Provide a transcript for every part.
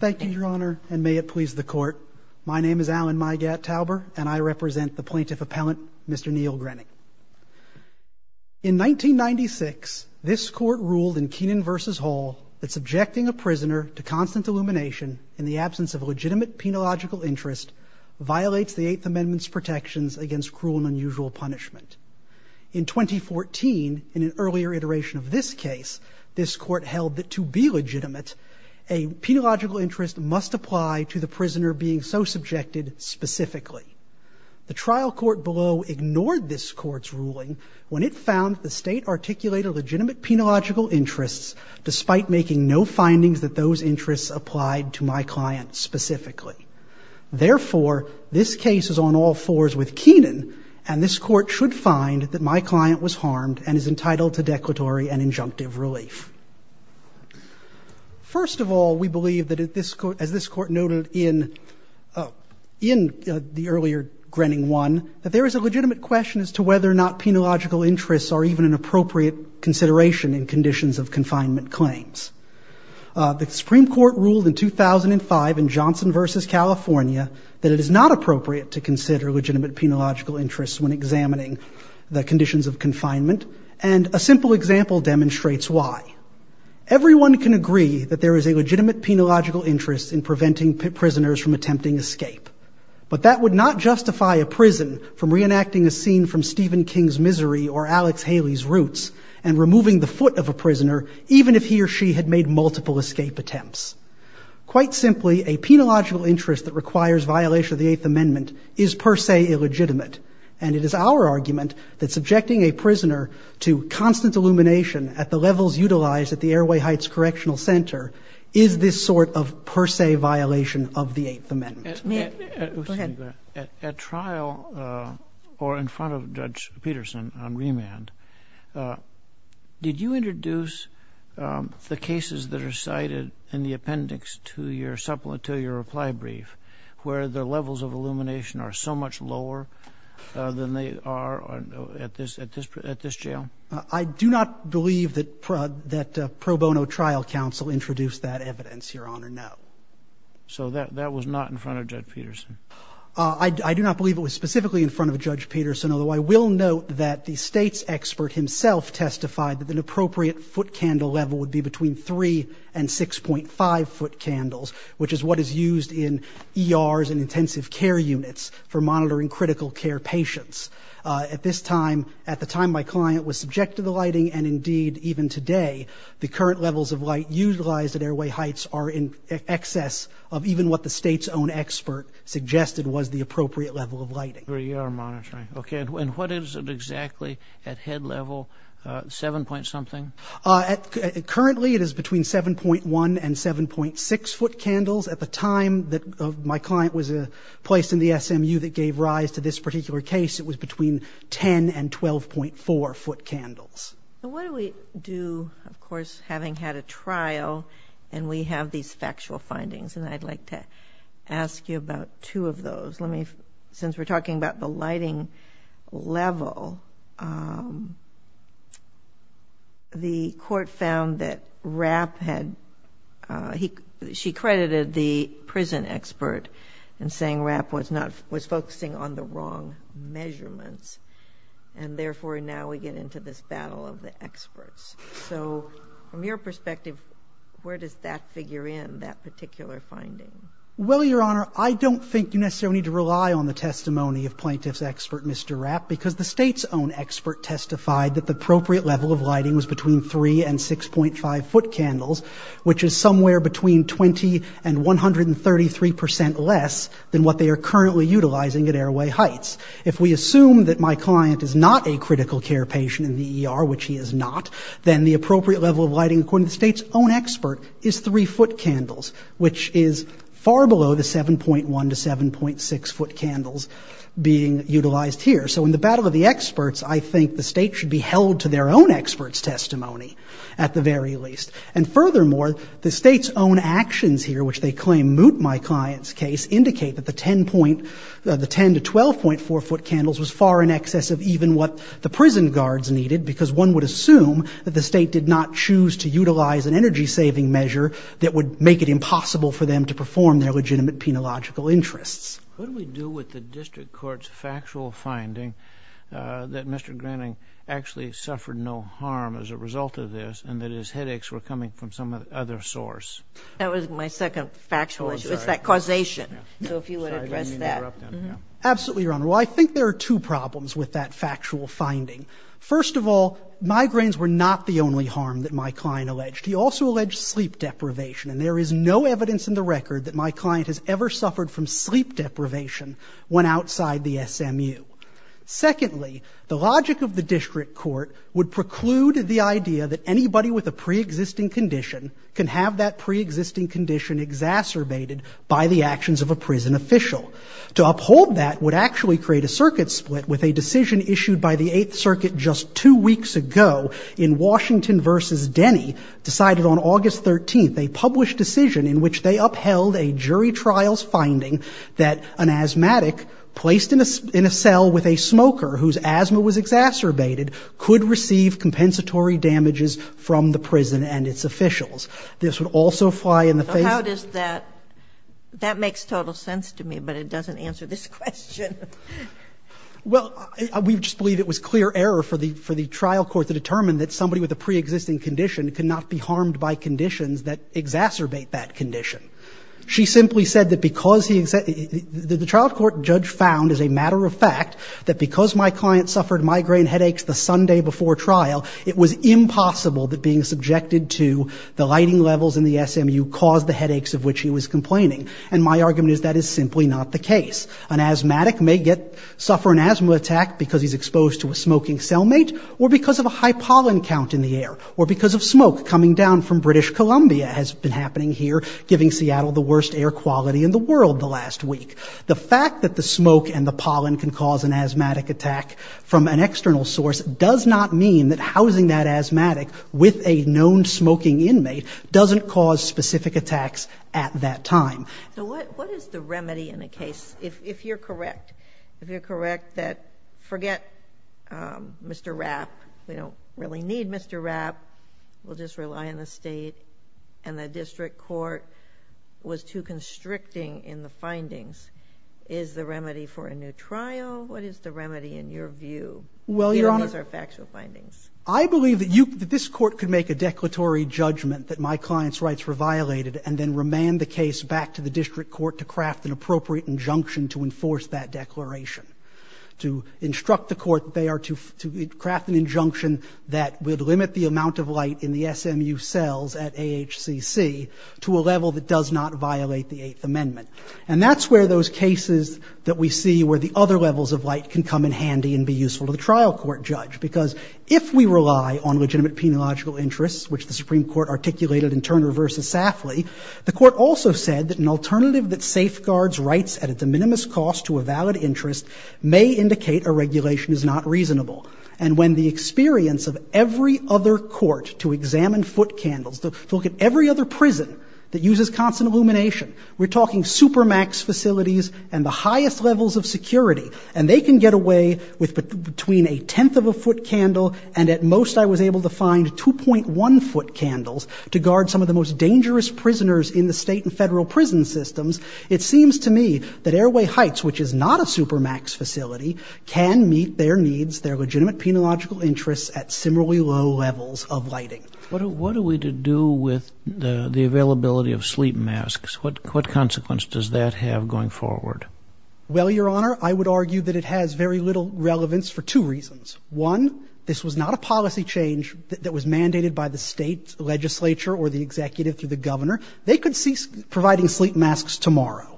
Thank you, Your Honor, and may it please the Court. My name is Alan Migat-Tauber, and I represent the Plaintiff Appellant, Mr. Neil Grenning. In 1996, this Court ruled in Keenan v. Hall that subjecting a prisoner to constant illumination in the absence of a legitimate penological interest violates the Eighth Amendment's protections against cruel and unusual punishment. In 2014, in an earlier iteration of this case, this Court held that to be legitimate, a penological interest must apply to the prisoner being so subjected specifically. The trial court below ignored this Court's ruling when it found the State articulated legitimate penological interests despite making no findings that those interests applied to my client specifically. Therefore, this case is on all fours with Keenan, and this Court should find that my client was harmed and is entitled to declaratory and injunctive relief. First of all, we believe that, as this Court noted in the earlier Grenning 1, that there is a legitimate question as to whether or not penological interests are even an appropriate consideration in conditions of confinement claims. The Supreme Court ruled in 2005 in Johnson v. California that it is not appropriate to consider legitimate penological interests when example demonstrates why. Everyone can agree that there is a legitimate penological interest in preventing prisoners from attempting escape, but that would not justify a prison from reenacting a scene from Stephen King's Misery or Alex Haley's Roots and removing the foot of a prisoner even if he or she had made multiple escape attempts. Quite simply, a penological interest that requires violation of the Eighth Amendment is per se illegitimate, and it is our argument that subjecting a prisoner to constant illumination at the levels utilized at the Airway Heights Correctional Center is this sort of per se violation of the Eighth Amendment. Go ahead. At trial, or in front of Judge Peterson on remand, did you introduce the cases that are cited in the appendix to your reply brief where the levels of illumination are so much lower than they are at this jail? I do not believe that pro bono trial counsel introduced that evidence, Your Honor, no. So that was not in front of Judge Peterson? I do not believe it was specifically in front of Judge Peterson, although I will note that the state's expert himself testified that an appropriate foot candle level would be between 3 and 6.5 foot candles, which is what is used in ERs and for monitoring critical care patients. At this time, at the time my client was subjected to lighting, and indeed even today, the current levels of light utilized at Airway Heights are in excess of even what the state's own expert suggested was the appropriate level of lighting. For ER monitoring, okay. And what is it exactly at head level, 7 point something? Currently, it is between 7.1 and 7.6 foot candles. At the time that my client was placed in the SMU that gave rise to this particular case, it was between 10 and 12.4 foot candles. And what do we do, of course, having had a trial and we have these factual findings, and I'd like to ask you about two of those. Let me, since we're talking about the lighting level, the court found that Rapp had, he, she credited the prison expert and saying Rapp was not, was focusing on the wrong measurements, and therefore, now we get into this battle of the experts, so from your perspective, where does that figure in, that particular finding? Well, Your Honor, I don't think you necessarily need to rely on the testimony of plaintiff's expert, Mr. Rapp, because the state's own expert testified that the appropriate level of lighting was between 3 and 6.5 foot candles, which is somewhere between 20 and 133% less than what they are currently utilizing at airway heights. If we assume that my client is not a critical care patient in the ER, which he is not, then the appropriate level of lighting, according to the state's own expert, is 3 foot candles, which is far below the 7.1 to 7.6 foot candles being utilized here. So in the battle of the experts, I think the state should be held to their own expert's testimony, at the very least, and furthermore, the state's own actions here, which they claim moot my client's case, indicate that the 10 to 12.4 foot candles was far in excess of even what the prison guards needed, because one would assume that the state did not choose to utilize an energy-saving measure that would make it impossible for them to perform their legitimate penological interests. What do we do with the district court's factual finding that Mr. Harms was a result of this, and that his headaches were coming from some other source? That was my second factual issue. It's that causation. So if you would address that. Absolutely, Your Honor. Well, I think there are two problems with that factual finding. First of all, migraines were not the only harm that my client alleged. He also alleged sleep deprivation, and there is no evidence in the record that my client has ever suffered from sleep deprivation when outside the SMU. Secondly, the logic of the district court would preclude the idea that anybody with a preexisting condition can have that preexisting condition exacerbated by the actions of a prison official. To uphold that would actually create a circuit split with a decision issued by the Eighth Circuit just two weeks ago in Washington v. Denny decided on August 13th, a published decision in which they upheld a jury trial's finding that an asthmatic placed in a cell with a smoker whose asthma was exacerbated could receive compensatory damages from the prison and its officials. This would also fly in the face. How does that, that makes total sense to me, but it doesn't answer this question. Well, we just believe it was clear error for the trial court to determine that somebody with a preexisting condition could not be harmed by conditions that exacerbate that condition. She simply said that because he, the trial court judge found as a matter of fact that because my client suffered migraine headaches the Sunday before trial, it was impossible that being subjected to the lighting levels in the SMU caused the headaches of which he was complaining. And my argument is that is simply not the case. An asthmatic may get, suffer an asthma attack because he's exposed to a smoking cellmate or because of a high pollen count in the air or because of smoke coming down from British Columbia has been happening here, giving Seattle the worst air quality in the world the last week. The fact that the smoke and the pollen can cause an asthmatic attack from an external source does not mean that housing that asthmatic with a known smoking inmate doesn't cause specific attacks at that time. So what, what is the remedy in a case, if you're correct, if you're correct, that forget, um, Mr. Rapp, we don't really need Mr. Rapp, we'll just rely on the state and the district court was too constricting in the findings, is the remedy for a new trial? What is the remedy in your view? Well, Your Honor, These are factual findings. I believe that you, that this court could make a declaratory judgment that my client's rights were violated and then remand the case back to the district court to craft an appropriate injunction to enforce that declaration, to instruct the court they would limit the amount of light in the SMU cells at AHCC to a level that does not violate the eighth amendment. And that's where those cases that we see where the other levels of light can come in handy and be useful to the trial court judge. Because if we rely on legitimate peniological interests, which the Supreme Court articulated in Turner versus Safley, the court also said that an alternative that safeguards rights at a de minimis cost to a valid interest may indicate a regulation is not reasonable. And when the experience of every other court to examine foot candles, to look at every other prison that uses constant illumination, we're talking supermax facilities and the highest levels of security, and they can get away with between a tenth of a foot candle. And at most, I was able to find 2.1 foot candles to guard some of the most dangerous prisoners in the state and federal prison systems. It seems to me that Airway Heights, which is not a supermax facility, can meet their needs, their legitimate peniological interests at similarly low levels of lighting. What do we do with the availability of sleep masks? What consequence does that have going forward? Well, Your Honor, I would argue that it has very little relevance for two reasons. One, this was not a policy change that was mandated by the state legislature or the executive through the governor. They could cease providing sleep masks tomorrow.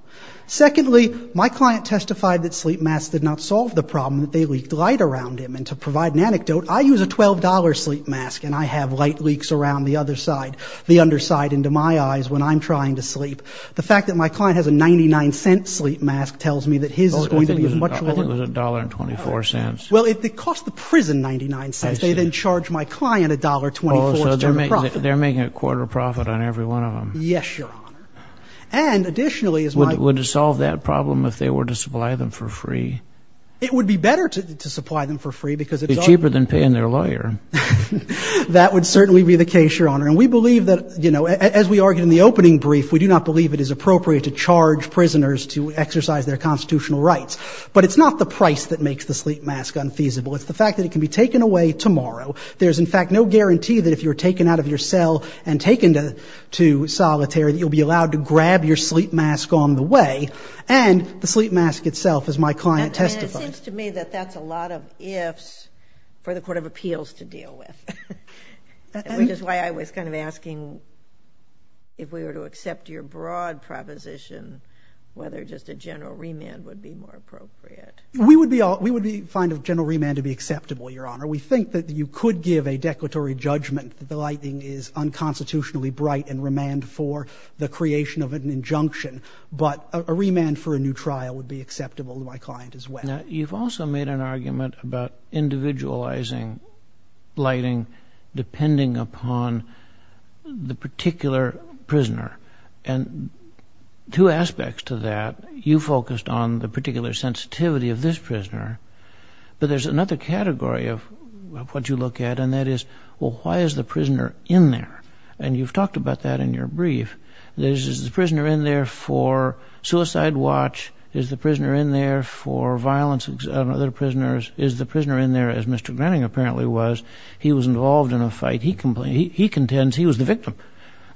Secondly, my client testified that sleep masks did not solve the problem that they had around him. And to provide an anecdote, I use a $12 sleep mask and I have light leaks around the other side, the underside into my eyes when I'm trying to sleep. The fact that my client has a $0.99 sleep mask tells me that his is going to be much lower. I think it was $1.24. Well, it cost the prison $0.99. They then charge my client $1.24. They're making a quarter profit on every one of them. Yes, Your Honor. And additionally, would it solve that problem if they were to supply them for free? It would be better to supply them for free because it's cheaper than paying their lawyer. That would certainly be the case, Your Honor. And we believe that, you know, as we argued in the opening brief, we do not believe it is appropriate to charge prisoners to exercise their constitutional rights. But it's not the price that makes the sleep mask unfeasible. It's the fact that it can be taken away tomorrow. There's, in fact, no guarantee that if you're taken out of your cell and taken to solitary, you'll be allowed to grab your sleep mask on the way. And the sleep mask itself, as my client testified. And it seems to me that that's a lot of ifs for the Court of Appeals to deal with, which is why I was kind of asking if we were to accept your broad proposition, whether just a general remand would be more appropriate. We would find a general remand to be acceptable, Your Honor. We think that you could give a declaratory judgment that the lighting is unconstitutionally bright and remand for the creation of an injunction. But a remand for a new trial would be acceptable to my client as well. You've also made an argument about individualizing lighting depending upon the particular prisoner and two aspects to that. You focused on the particular sensitivity of this prisoner. But there's another category of what you look at, and that is, well, why is the prisoner in there? And you've talked about that in your brief. Is the prisoner in there for suicide watch? Is the prisoner in there for violence on other prisoners? Is the prisoner in there, as Mr. Groning apparently was, he was involved in a fight. He contends he was the victim.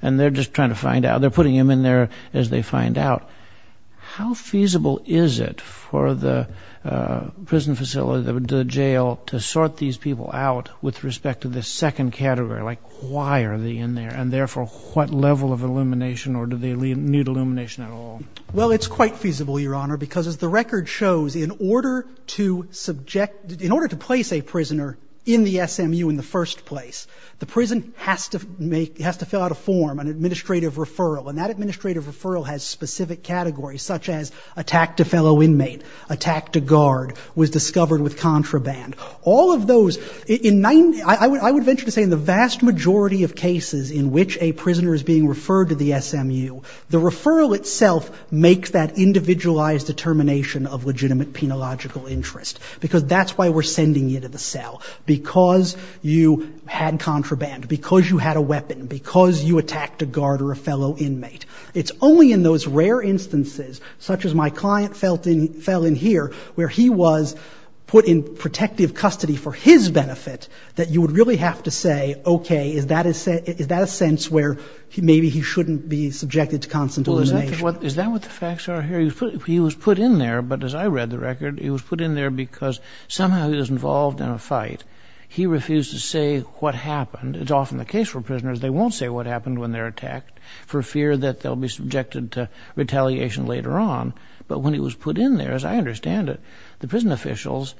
And they're just trying to find out. They're putting him in there as they find out. How feasible is it for the prison facility, the jail, to sort these people out with respect to the second category? Like, why are they in there? And therefore, what level of illumination or do they need illumination at all? Well, it's quite feasible, Your Honor, because as the record shows, in order to subject, in order to place a prisoner in the SMU in the first place, the prison has to make, has to fill out a form, an administrative referral. And that administrative referral has specific categories, such as attack to fellow inmate, attack to guard, was discovered with contraband. All of those, in 90, I would venture to say in the vast majority of cases in which a prisoner is being referred to the SMU, the referral itself makes that individualized determination of legitimate penological interest, because that's why we're sending you to the cell, because you had contraband, because you had a weapon, because you attacked a guard or a fellow inmate. It's only in those rare instances, such as my client fell in here, where he was put in protective custody for his benefit, that you would really have to say, OK, is that a sense where maybe he shouldn't be subjected to constant illumination? Is that what the facts are here? He was put in there, but as I read the record, he was put in there because somehow he was involved in a fight. He refused to say what happened. It's often the case for prisoners, they won't say what happened when they're attacked for fear that they'll be subjected to retaliation later on. But when he was put in there, as I understand it, the prison officials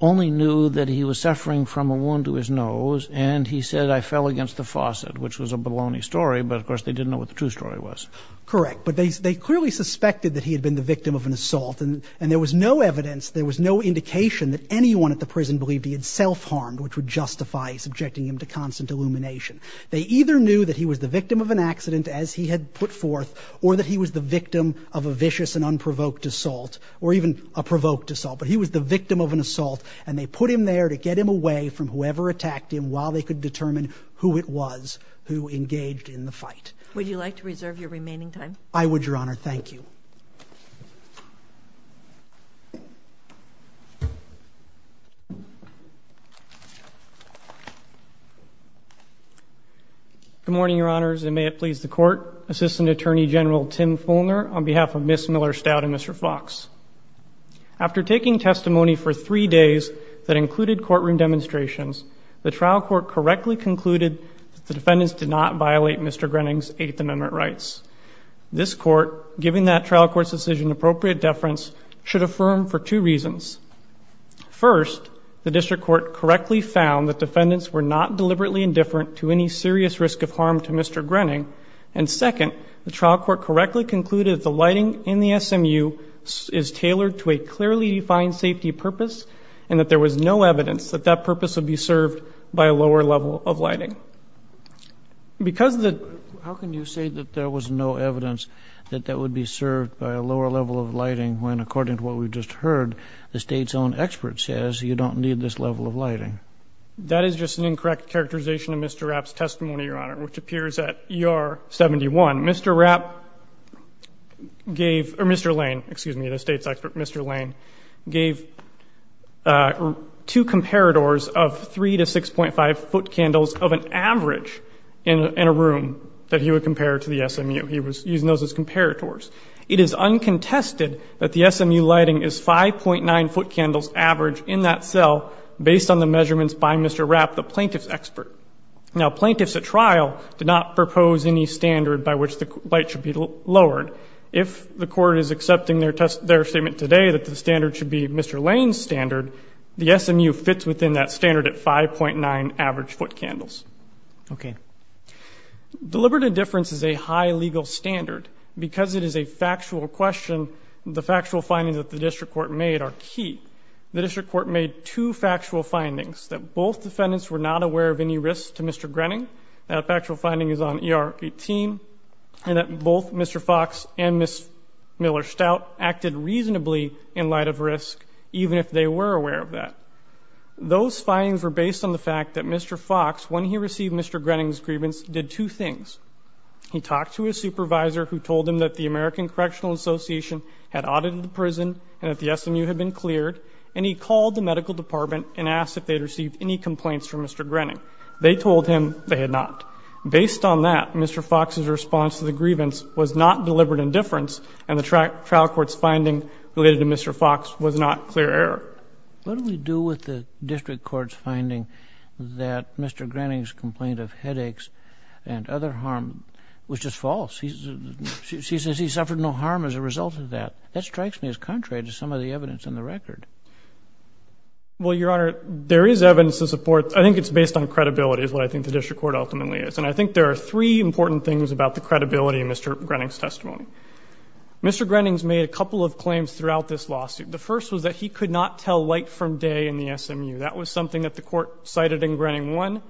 only knew that he was suffering from a wound to his nose and he said, I fell against the faucet, which was a baloney story. But of course, they didn't know what the true story was. Correct. But they clearly suspected that he had been the victim of an assault and there was no evidence, there was no indication that anyone at the prison believed he had self-harmed, which would justify subjecting him to constant illumination. They either knew that he was the victim of an accident, as he had put forth, or that he was the victim of a vicious and unprovoked assault or even a provoked assault. But he was the victim of an assault and they put him there to get him away from whoever attacked him while they could determine who it was who engaged in the fight. Would you like to reserve your remaining time? I would, Your Honor. Thank you. Good morning, Your Honors, and may it please the court. Assistant Attorney General Tim Fulner on behalf of Ms. Miller-Stout and Mr. Fox. After taking testimony for three days that included courtroom demonstrations, the trial court correctly concluded that the defendants did not violate Mr. Grenning's Eighth Amendment rights. This court, given that trial court's decision, appropriate deference should affirm for two reasons. First, the district court correctly found that defendants were not deliberately indifferent to any serious risk of harm to Mr. Grenning. And second, the trial court correctly concluded the lighting in the SMU is tailored to a clearly defined safety purpose and that there was no evidence that that purpose would be served by a lower level of lighting. Because of that, how can you say that there was no evidence that that would be served by a lower level of lighting when, according to what we just heard, the state's own expert says you don't need this level of lighting? That is just an incorrect characterization of Mr. Rapp's testimony, Your Honor, which appears at ER 71. Mr. Rapp gave, or Mr. Lane, excuse me, the state's expert, Mr. Lane, gave two comparators of three to 6.5 foot candles of an average in a room that he would compare to the SMU. He was using those as comparators. It is uncontested that the SMU lighting is 5.9 foot candles average in that cell based on the measurements by Mr. Rapp, the plaintiff's expert. Now, plaintiffs at trial did not propose any standard by which the light should be lowered. If the court is accepting their test, their statement today that the standard should be Mr. Lane's standard, the SMU fits within that standard at 5.9 average foot candles. Okay. Deliberative difference is a high legal standard because it is a factual question. The factual findings that the district court made are key. The district court made two factual findings that both defendants were not aware of any risks to Mr. Grenning. That factual finding is on ER 18, and that both Mr. Fox and Ms. Miller Stout acted reasonably in light of risk, even if they were aware of that. Those findings were based on the fact that Mr. Fox, when he received Mr. Grenning's grievance, did two things. He talked to a supervisor who told him that the American Correctional Association had a medical department and asked if they'd received any complaints from Mr. Grenning. They told him they had not. Based on that, Mr. Fox's response to the grievance was not deliberate indifference, and the trial court's finding related to Mr. Fox was not clear error. What do we do with the district court's finding that Mr. Grenning's complaint of headaches and other harm was just false? He says he suffered no harm as a result of that. That strikes me as contrary to some of the evidence in the record. Well, Your Honor, there is evidence to support. I think it's based on credibility is what I think the district court ultimately is. And I think there are three important things about the credibility of Mr. Grenning's testimony. Mr. Grenning's made a couple of claims throughout this lawsuit. The first was that he could not tell light from day in the SMU. That was something that the court cited in Grenning one,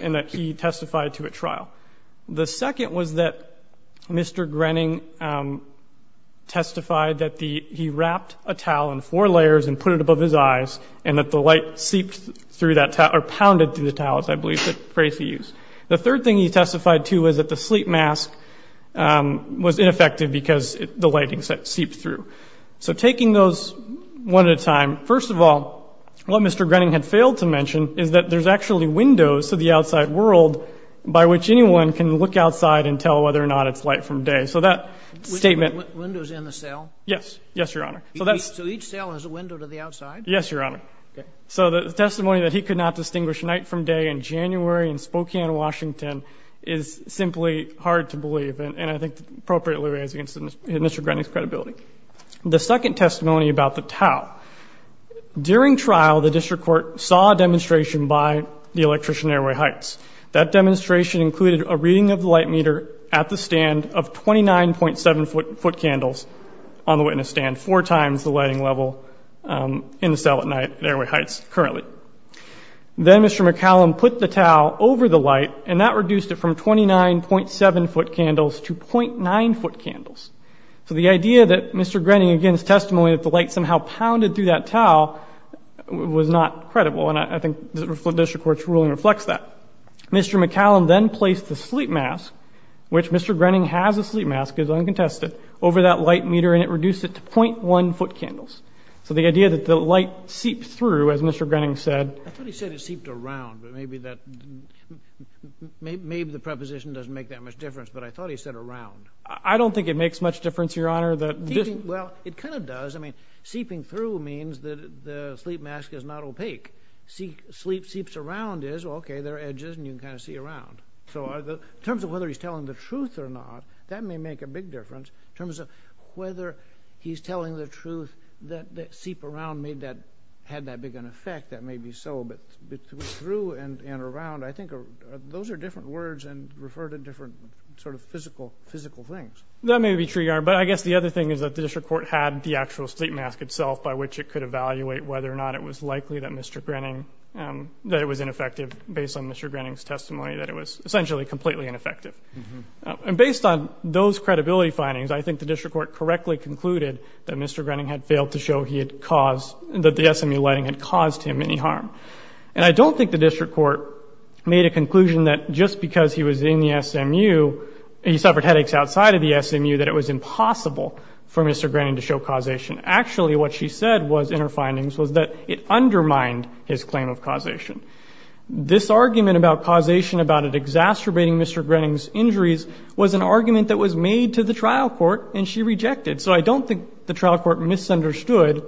and that he testified to a trial. The second was that Mr. Grenning testified that the he wrapped a towel in four layers and put it above his eyes and that the light seeped through that or pounded through the towels. I believe that phrase he used. The third thing he testified to is that the sleep mask was ineffective because the lighting set seeped through. So taking those one at a time, first of all, what Mr. Grenning had failed to mention is that there's actually windows to the outside world by which anyone can look outside and tell whether or not it's light from day. So that statement windows in the cell. Yes. Yes, Your Honor. So that's so each cell has a window to the outside. Yes, Your Honor. So the testimony that he could not distinguish night from day in January in Spokane, Washington is simply hard to believe. And I think appropriately raised against Mr. Grenning's credibility. The second testimony about the towel during trial, the district court saw a demonstration by the electrician airway Heights. That demonstration included a reading of the light meter at the stand of 29.7 foot candles on the witness stand four times the lighting level in the cell at night airway Heights currently. Then Mr. McCallum put the towel over the light and that reduced it from 29.7 foot candles to 0.9 foot candles. So the idea that Mr. Grenning against testimony that the light somehow pounded through that towel was not credible. And I think the district court's ruling reflects that Mr. McCallum then placed the sleep mask, which Mr. Grenning has a sleep mask is uncontested over that light meter. And it reduced it to 0.1 foot candles. So the idea that the light seeped through, as Mr. Grenning said, I thought he said it seeped around, but maybe that maybe the preposition doesn't make that much difference. But I thought he said around, I don't think it makes much difference, Your Honor, that well, it kind of does. I mean, seeping through means that the sleep mask is not opaque. See sleep seeps around is OK. There are edges and you can kind of see around. So in terms of whether he's telling the truth or not, that may make a big difference in terms of whether he's telling the truth that seep around made that had that big an effect. That may be so, but through and around, I think those are different words and refer to different sort of physical, physical things. That may be true, Your Honor. But I guess the other thing is that the district court had the actual sleep mask itself by which it could evaluate whether or not it was likely that Mr. Grenning, that it was ineffective based on Mr. Grenning's testimony, that it was essentially completely ineffective. And based on those credibility findings, I think the district court correctly concluded that Mr. Grenning had failed to show he had caused that the SMU lighting had caused him any harm. And I don't think the district court made a conclusion that just because he was in the SMU, he suffered headaches outside of the SMU, that it was impossible for Mr. Grenning to show causation. Actually, what she said was in her findings was that it undermined his claim of causation. This argument about causation, about it exacerbating Mr. Grenning's injuries was an argument that was made to the trial court and she rejected. So I don't think the trial court misunderstood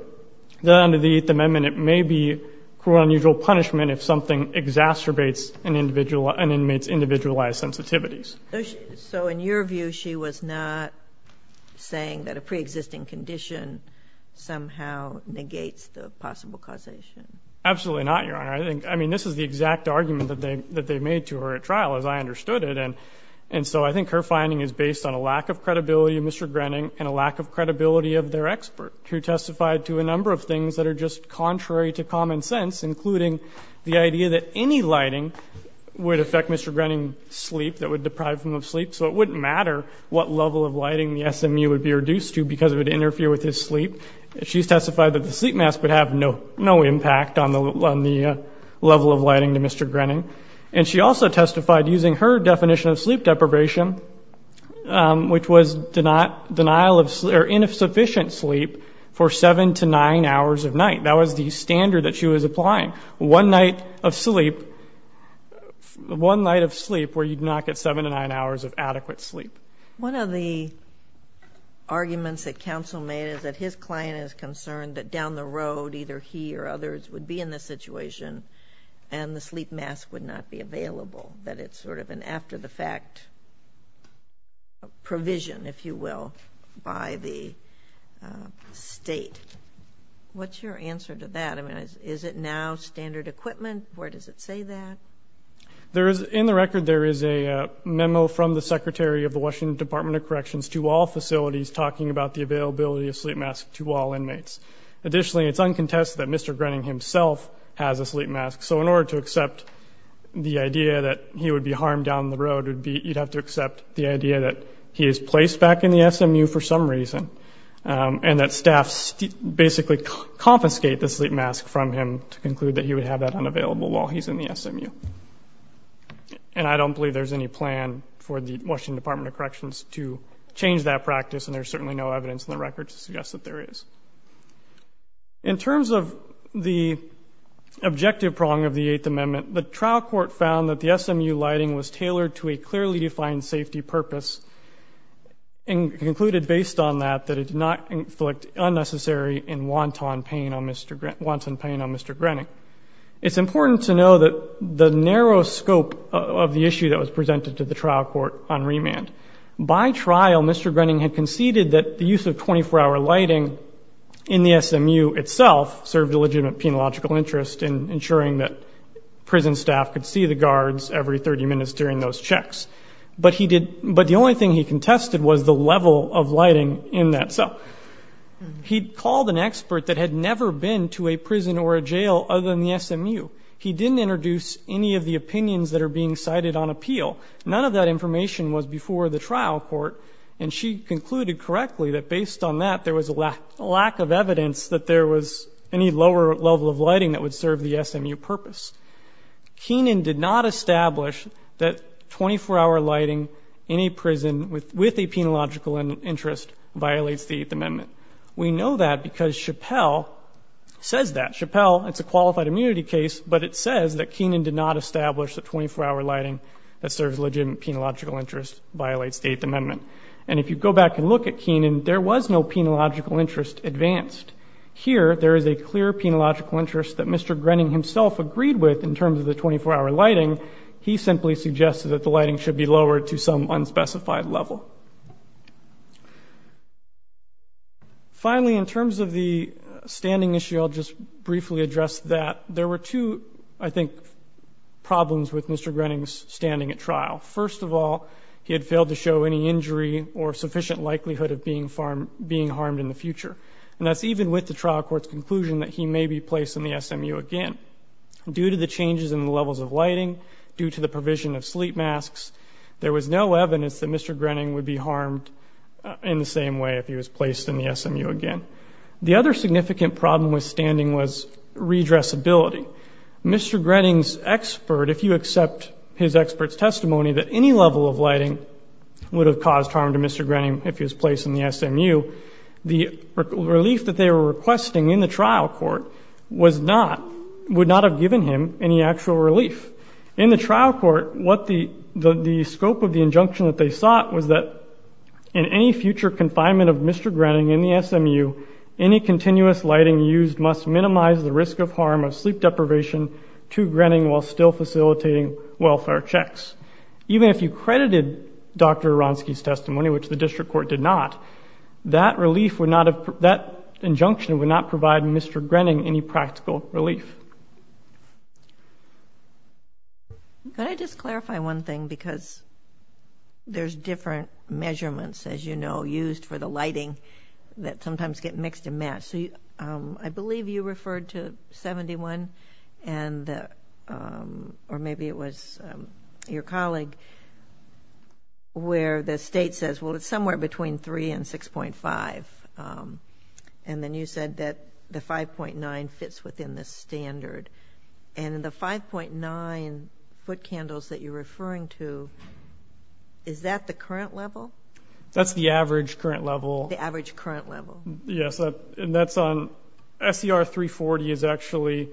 that under the Eighth Amendment, it may be cruel, unusual punishment if something exacerbates an individual, an inmate's individualized sensitivities. So in your view, she was not saying that a preexisting condition somehow negates the possible causation? Absolutely not, Your Honor. I think, I mean, this is the exact argument that they, that they made to her at trial as I understood it. And, and so I think her finding is based on a lack of credibility of Mr. Grenning and a lack of credibility of their expert who testified to a number of things that are just contrary to common sense, including the idea that any lighting would affect Mr. Grenning's sleep, that would deprive him of sleep. So it wouldn't matter what level of lighting the SMU would be reduced to because it would interfere with his sleep. She's testified that the sleep mask would have no, no impact on the, on the level of lighting to Mr. Grenning. And she also testified using her definition of sleep deprivation, which was denial of sleep or insufficient sleep for seven to nine hours of night. That was the standard that she was applying. One night of sleep, one night of sleep where you'd not get seven to nine hours of adequate sleep. One of the arguments that counsel made is that his client is concerned that down the road, either he or others would be in this situation and the sleep mask would not be available, that it's sort of an after the fact provision, if you will, by the state. What's your answer to that? Is it now standard equipment? Where does it say that? There is, in the record, there is a memo from the secretary of the Washington Department of Corrections to all facilities talking about the availability of sleep masks to all inmates. Additionally, it's uncontested that Mr. Grenning himself has a sleep mask. So in order to accept the idea that he would be harmed down the road would be, you'd have to accept the idea that he is placed back in the SMU for some reason and that basically confiscate the sleep mask from him to conclude that he would have that unavailable while he's in the SMU. And I don't believe there's any plan for the Washington Department of Corrections to change that practice. And there's certainly no evidence in the record to suggest that there is. In terms of the objective prong of the Eighth Amendment, the trial court found that the SMU lighting was tailored to a clearly defined safety purpose and concluded based on that, that it did not inflict unnecessary and wanton pain on Mr. Grenning. It's important to know that the narrow scope of the issue that was presented to the trial court on remand. By trial, Mr. Grenning had conceded that the use of 24-hour lighting in the SMU itself served a legitimate penological interest in ensuring that prison staff could see the guards every 30 minutes during those checks. But he did, but the only thing he contested was the level of lighting in that cell. He called an expert that had never been to a prison or a jail other than the SMU. He didn't introduce any of the opinions that are being cited on appeal. None of that information was before the trial court. And she concluded correctly that based on that, there was a lack of evidence that there was any lower level of lighting that would serve the SMU purpose. Keenan did not establish that 24-hour lighting in a prison with a penological interest violates the Eighth Amendment. We know that because Chappell says that. Chappell, it's a qualified immunity case, but it says that Keenan did not establish that 24-hour lighting that serves legitimate penological interest violates the Eighth Amendment. And if you go back and look at Keenan, there was no penological interest advanced. Here, there is a clear penological interest that Mr. Grenning himself agreed with in terms of the 24-hour lighting. He simply suggested that the lighting should be lowered to some unspecified level. Finally, in terms of the standing issue, I'll just briefly address that. There were two, I think, problems with Mr. Grenning's standing at trial. First of all, he had failed to show any injury or sufficient likelihood of being harmed in the future. And that's even with the trial court's conclusion that he may be placed in the SMU again. Due to the changes in the levels of lighting, due to the provision of sleep masks, there was no evidence that Mr. Grenning would be harmed in the same way if he was placed in the SMU again. The other significant problem with standing was redressability. Mr. Grenning's expert, if you accept his expert's testimony, that any level of lighting would have caused harm to Mr. Grenning if he was placed in the SMU. The relief that they were requesting in the trial court was not, would not have given him any actual relief. In the trial court, what the scope of the injunction that they sought was that in any future confinement of Mr. Grenning in the SMU, any continuous lighting used must minimize the risk of harm of sleep deprivation to Grenning while still facilitating welfare checks. Even if you credited Dr. Grenning with providing the relief that the court did not, that relief would not have, that injunction would not provide Mr. Grenning any practical relief. Can I just clarify one thing because there's different measurements, as you know, used for the lighting that sometimes get mixed and matched. So, um, I believe you referred to 71 and, um, or maybe it was, um, your colleague between three and 6.5, um, and then you said that the 5.9 fits within the standard and the 5.9 foot candles that you're referring to, is that the current level? That's the average current level. The average current level. Yes. And that's on SCR 340 is actually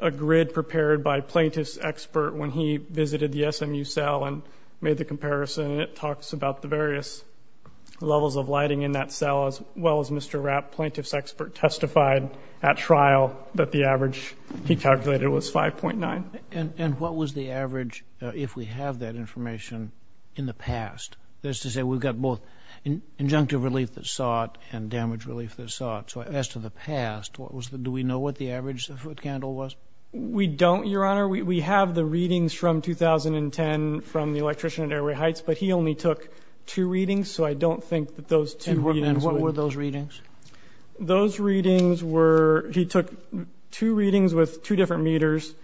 a grid prepared by plaintiff's expert when he visited the SMU cell and made the comparison. And it talks about the various levels of lighting in that cell, as well as Mr. Rapp, plaintiff's expert testified at trial that the average he calculated was 5.9. And what was the average if we have that information in the past? That is to say, we've got both injunctive relief that sought and damage relief that sought. So as to the past, what was the, do we know what the average foot candle was? We don't, Your Honor. We have the readings from 2010 from the electrician at Airway Heights, but he only took two readings. So I don't think that those two were those readings. Those readings were, he took two readings with two different meters.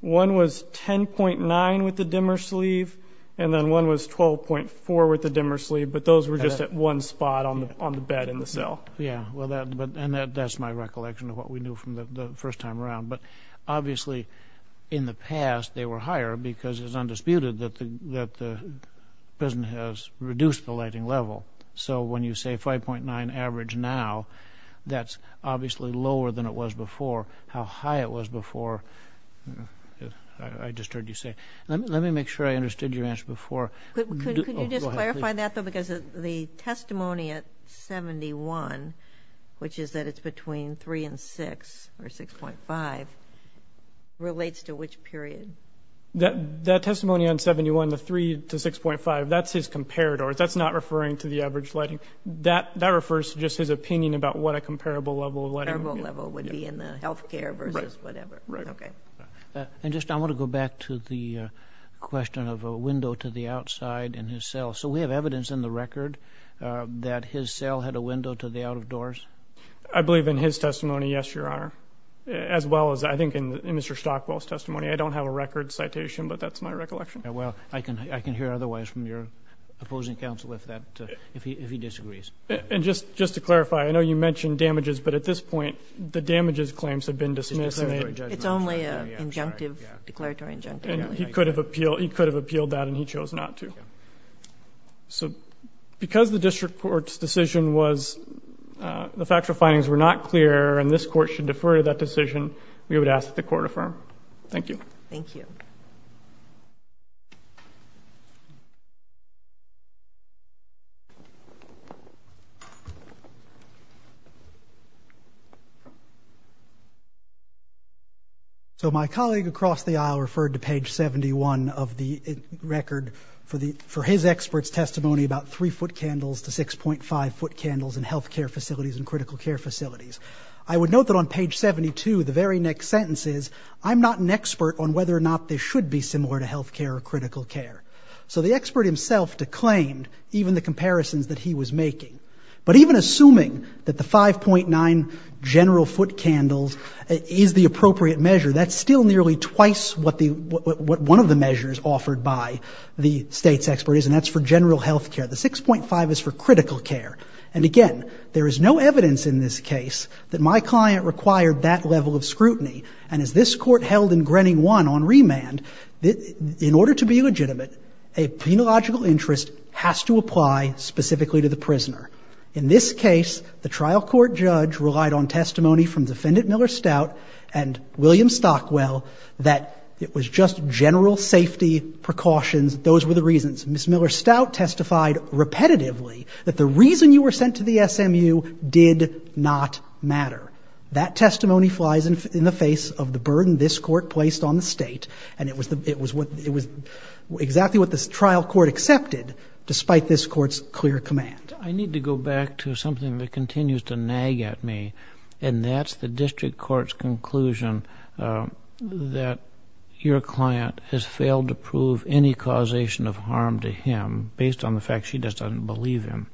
One was 10.9 with the dimmer sleeve, and then one was 12.4 with the dimmer sleeve, but those were just at one spot on the, on the bed in the cell. Yeah. Well, that, but, and that, that's my recollection of what we knew from the first time around. But obviously in the past they were higher because it's undisputed that the, that the prison has reduced the lighting level. So when you say 5.9 average now, that's obviously lower than it was before. How high it was before. I just heard you say, let me make sure I understood your answer before. Could you just clarify that though, because the testimony at 71, which is that it's between three and six or 6.5, relates to which period? That, that testimony on 71, the three to 6.5, that's his comparator. That's not referring to the average lighting. That, that refers to just his opinion about what a comparable level of lighting. Comparable level would be in the healthcare versus whatever. Right. Okay. And just, I want to go back to the question of a window to the outside in his cell. So we have evidence in the record that his cell had a window to the out of doors. I believe in his testimony. Yes, Your Honor. As well as I think in Mr. Stockwell's testimony, I don't have a record citation, but that's my recollection. Yeah. Well, I can, I can hear otherwise from your opposing counsel if that, if he, if he disagrees. And just, just to clarify, I know you mentioned damages, but at this point, the damages claims have been dismissed. It's only a injunctive, declaratory injunctive. And he could have appealed, he could have appealed that and he chose not to. So because the district court's decision was the factual findings were not clear and this court should defer to that decision, we would ask that the court affirm. Thank you. Thank you. So my colleague across the aisle referred to page 71 of the record for his expert's testimony, about three foot candles to 6.5 foot candles in healthcare facilities and critical care facilities. I would note that on page 72, the very next sentence is I'm not an expert on whether or not they should be similar to healthcare or critical care. So the expert himself declaimed even the comparisons that he was making, but even assuming that the 5.9 general foot candles is the appropriate measure. That's still nearly twice what the, what one of the measures offered by the state's expert is, and that's for general healthcare. The 6.5 is for critical care. And again, there is no evidence in this case that my client required that level of scrutiny. And as this court held in Grenning one on remand, in order to be legitimate, a penological interest has to apply specifically to the prisoner. In this case, the trial court judge relied on testimony from defendant Miller Stout and William Stockwell that it was just general safety precautions. Those were the reasons. Ms. Miller Stout testified repetitively that the reason you were sent to the SMU did not matter. That testimony flies in the face of the burden this court placed on the state. And it was the, it was what, it was exactly what this trial court accepted, despite this court's clear command. I need to go back to something that continues to nag at me, and that's the district court's conclusion that your client has failed to prove any causation of harm to him based on the fact she just doesn't believe him.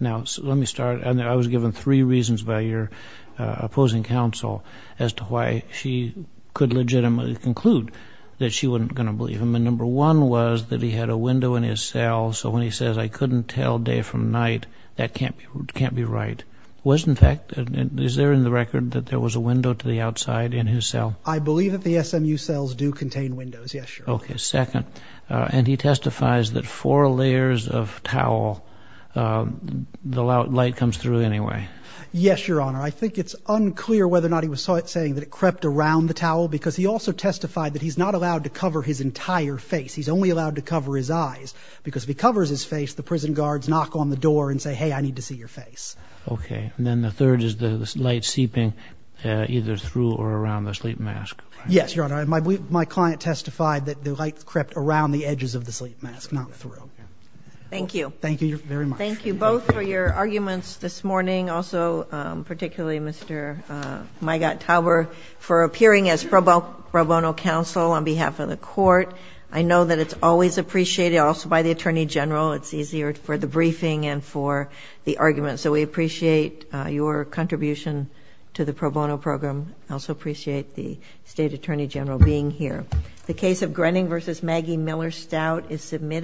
Now, let me start, and I was given three reasons by your opposing counsel as to why she could legitimately conclude that she wasn't going to believe him. And number one was that he had a window in his cell. So when he says, I couldn't tell day from night, that can't be, can't be right. Was in fact, is there in the record that there was a window to the outside in his cell? I believe that the SMU cells do contain windows. Yes, sure. Okay. Second, and he testifies that four layers of towel, the light comes through anyway. Yes, Your Honor. I think it's unclear whether or not he was saying that it crept around the towel because he also testified that he's not allowed to cover his entire face. He's only allowed to cover his eyes because if he covers his face, the prison guards knock on the door and say, hey, I need to see your face. Okay. And then the third is the light seeping either through or around the sleep mask. Yes, Your Honor. I, my client testified that the light crept around the edges of the sleep mask, not through. Thank you. Thank you very much. Thank you both for your arguments this morning. Also, particularly Mr. Mygot-Tauber for appearing as pro bono counsel on behalf of the court. I know that it's always appreciated also by the attorney general. It's easier for the briefing and for the argument. So we appreciate your contribution to the pro bono program. Also appreciate the state attorney general being here. The case of Grenning versus Maggie Miller-Stout is submitted.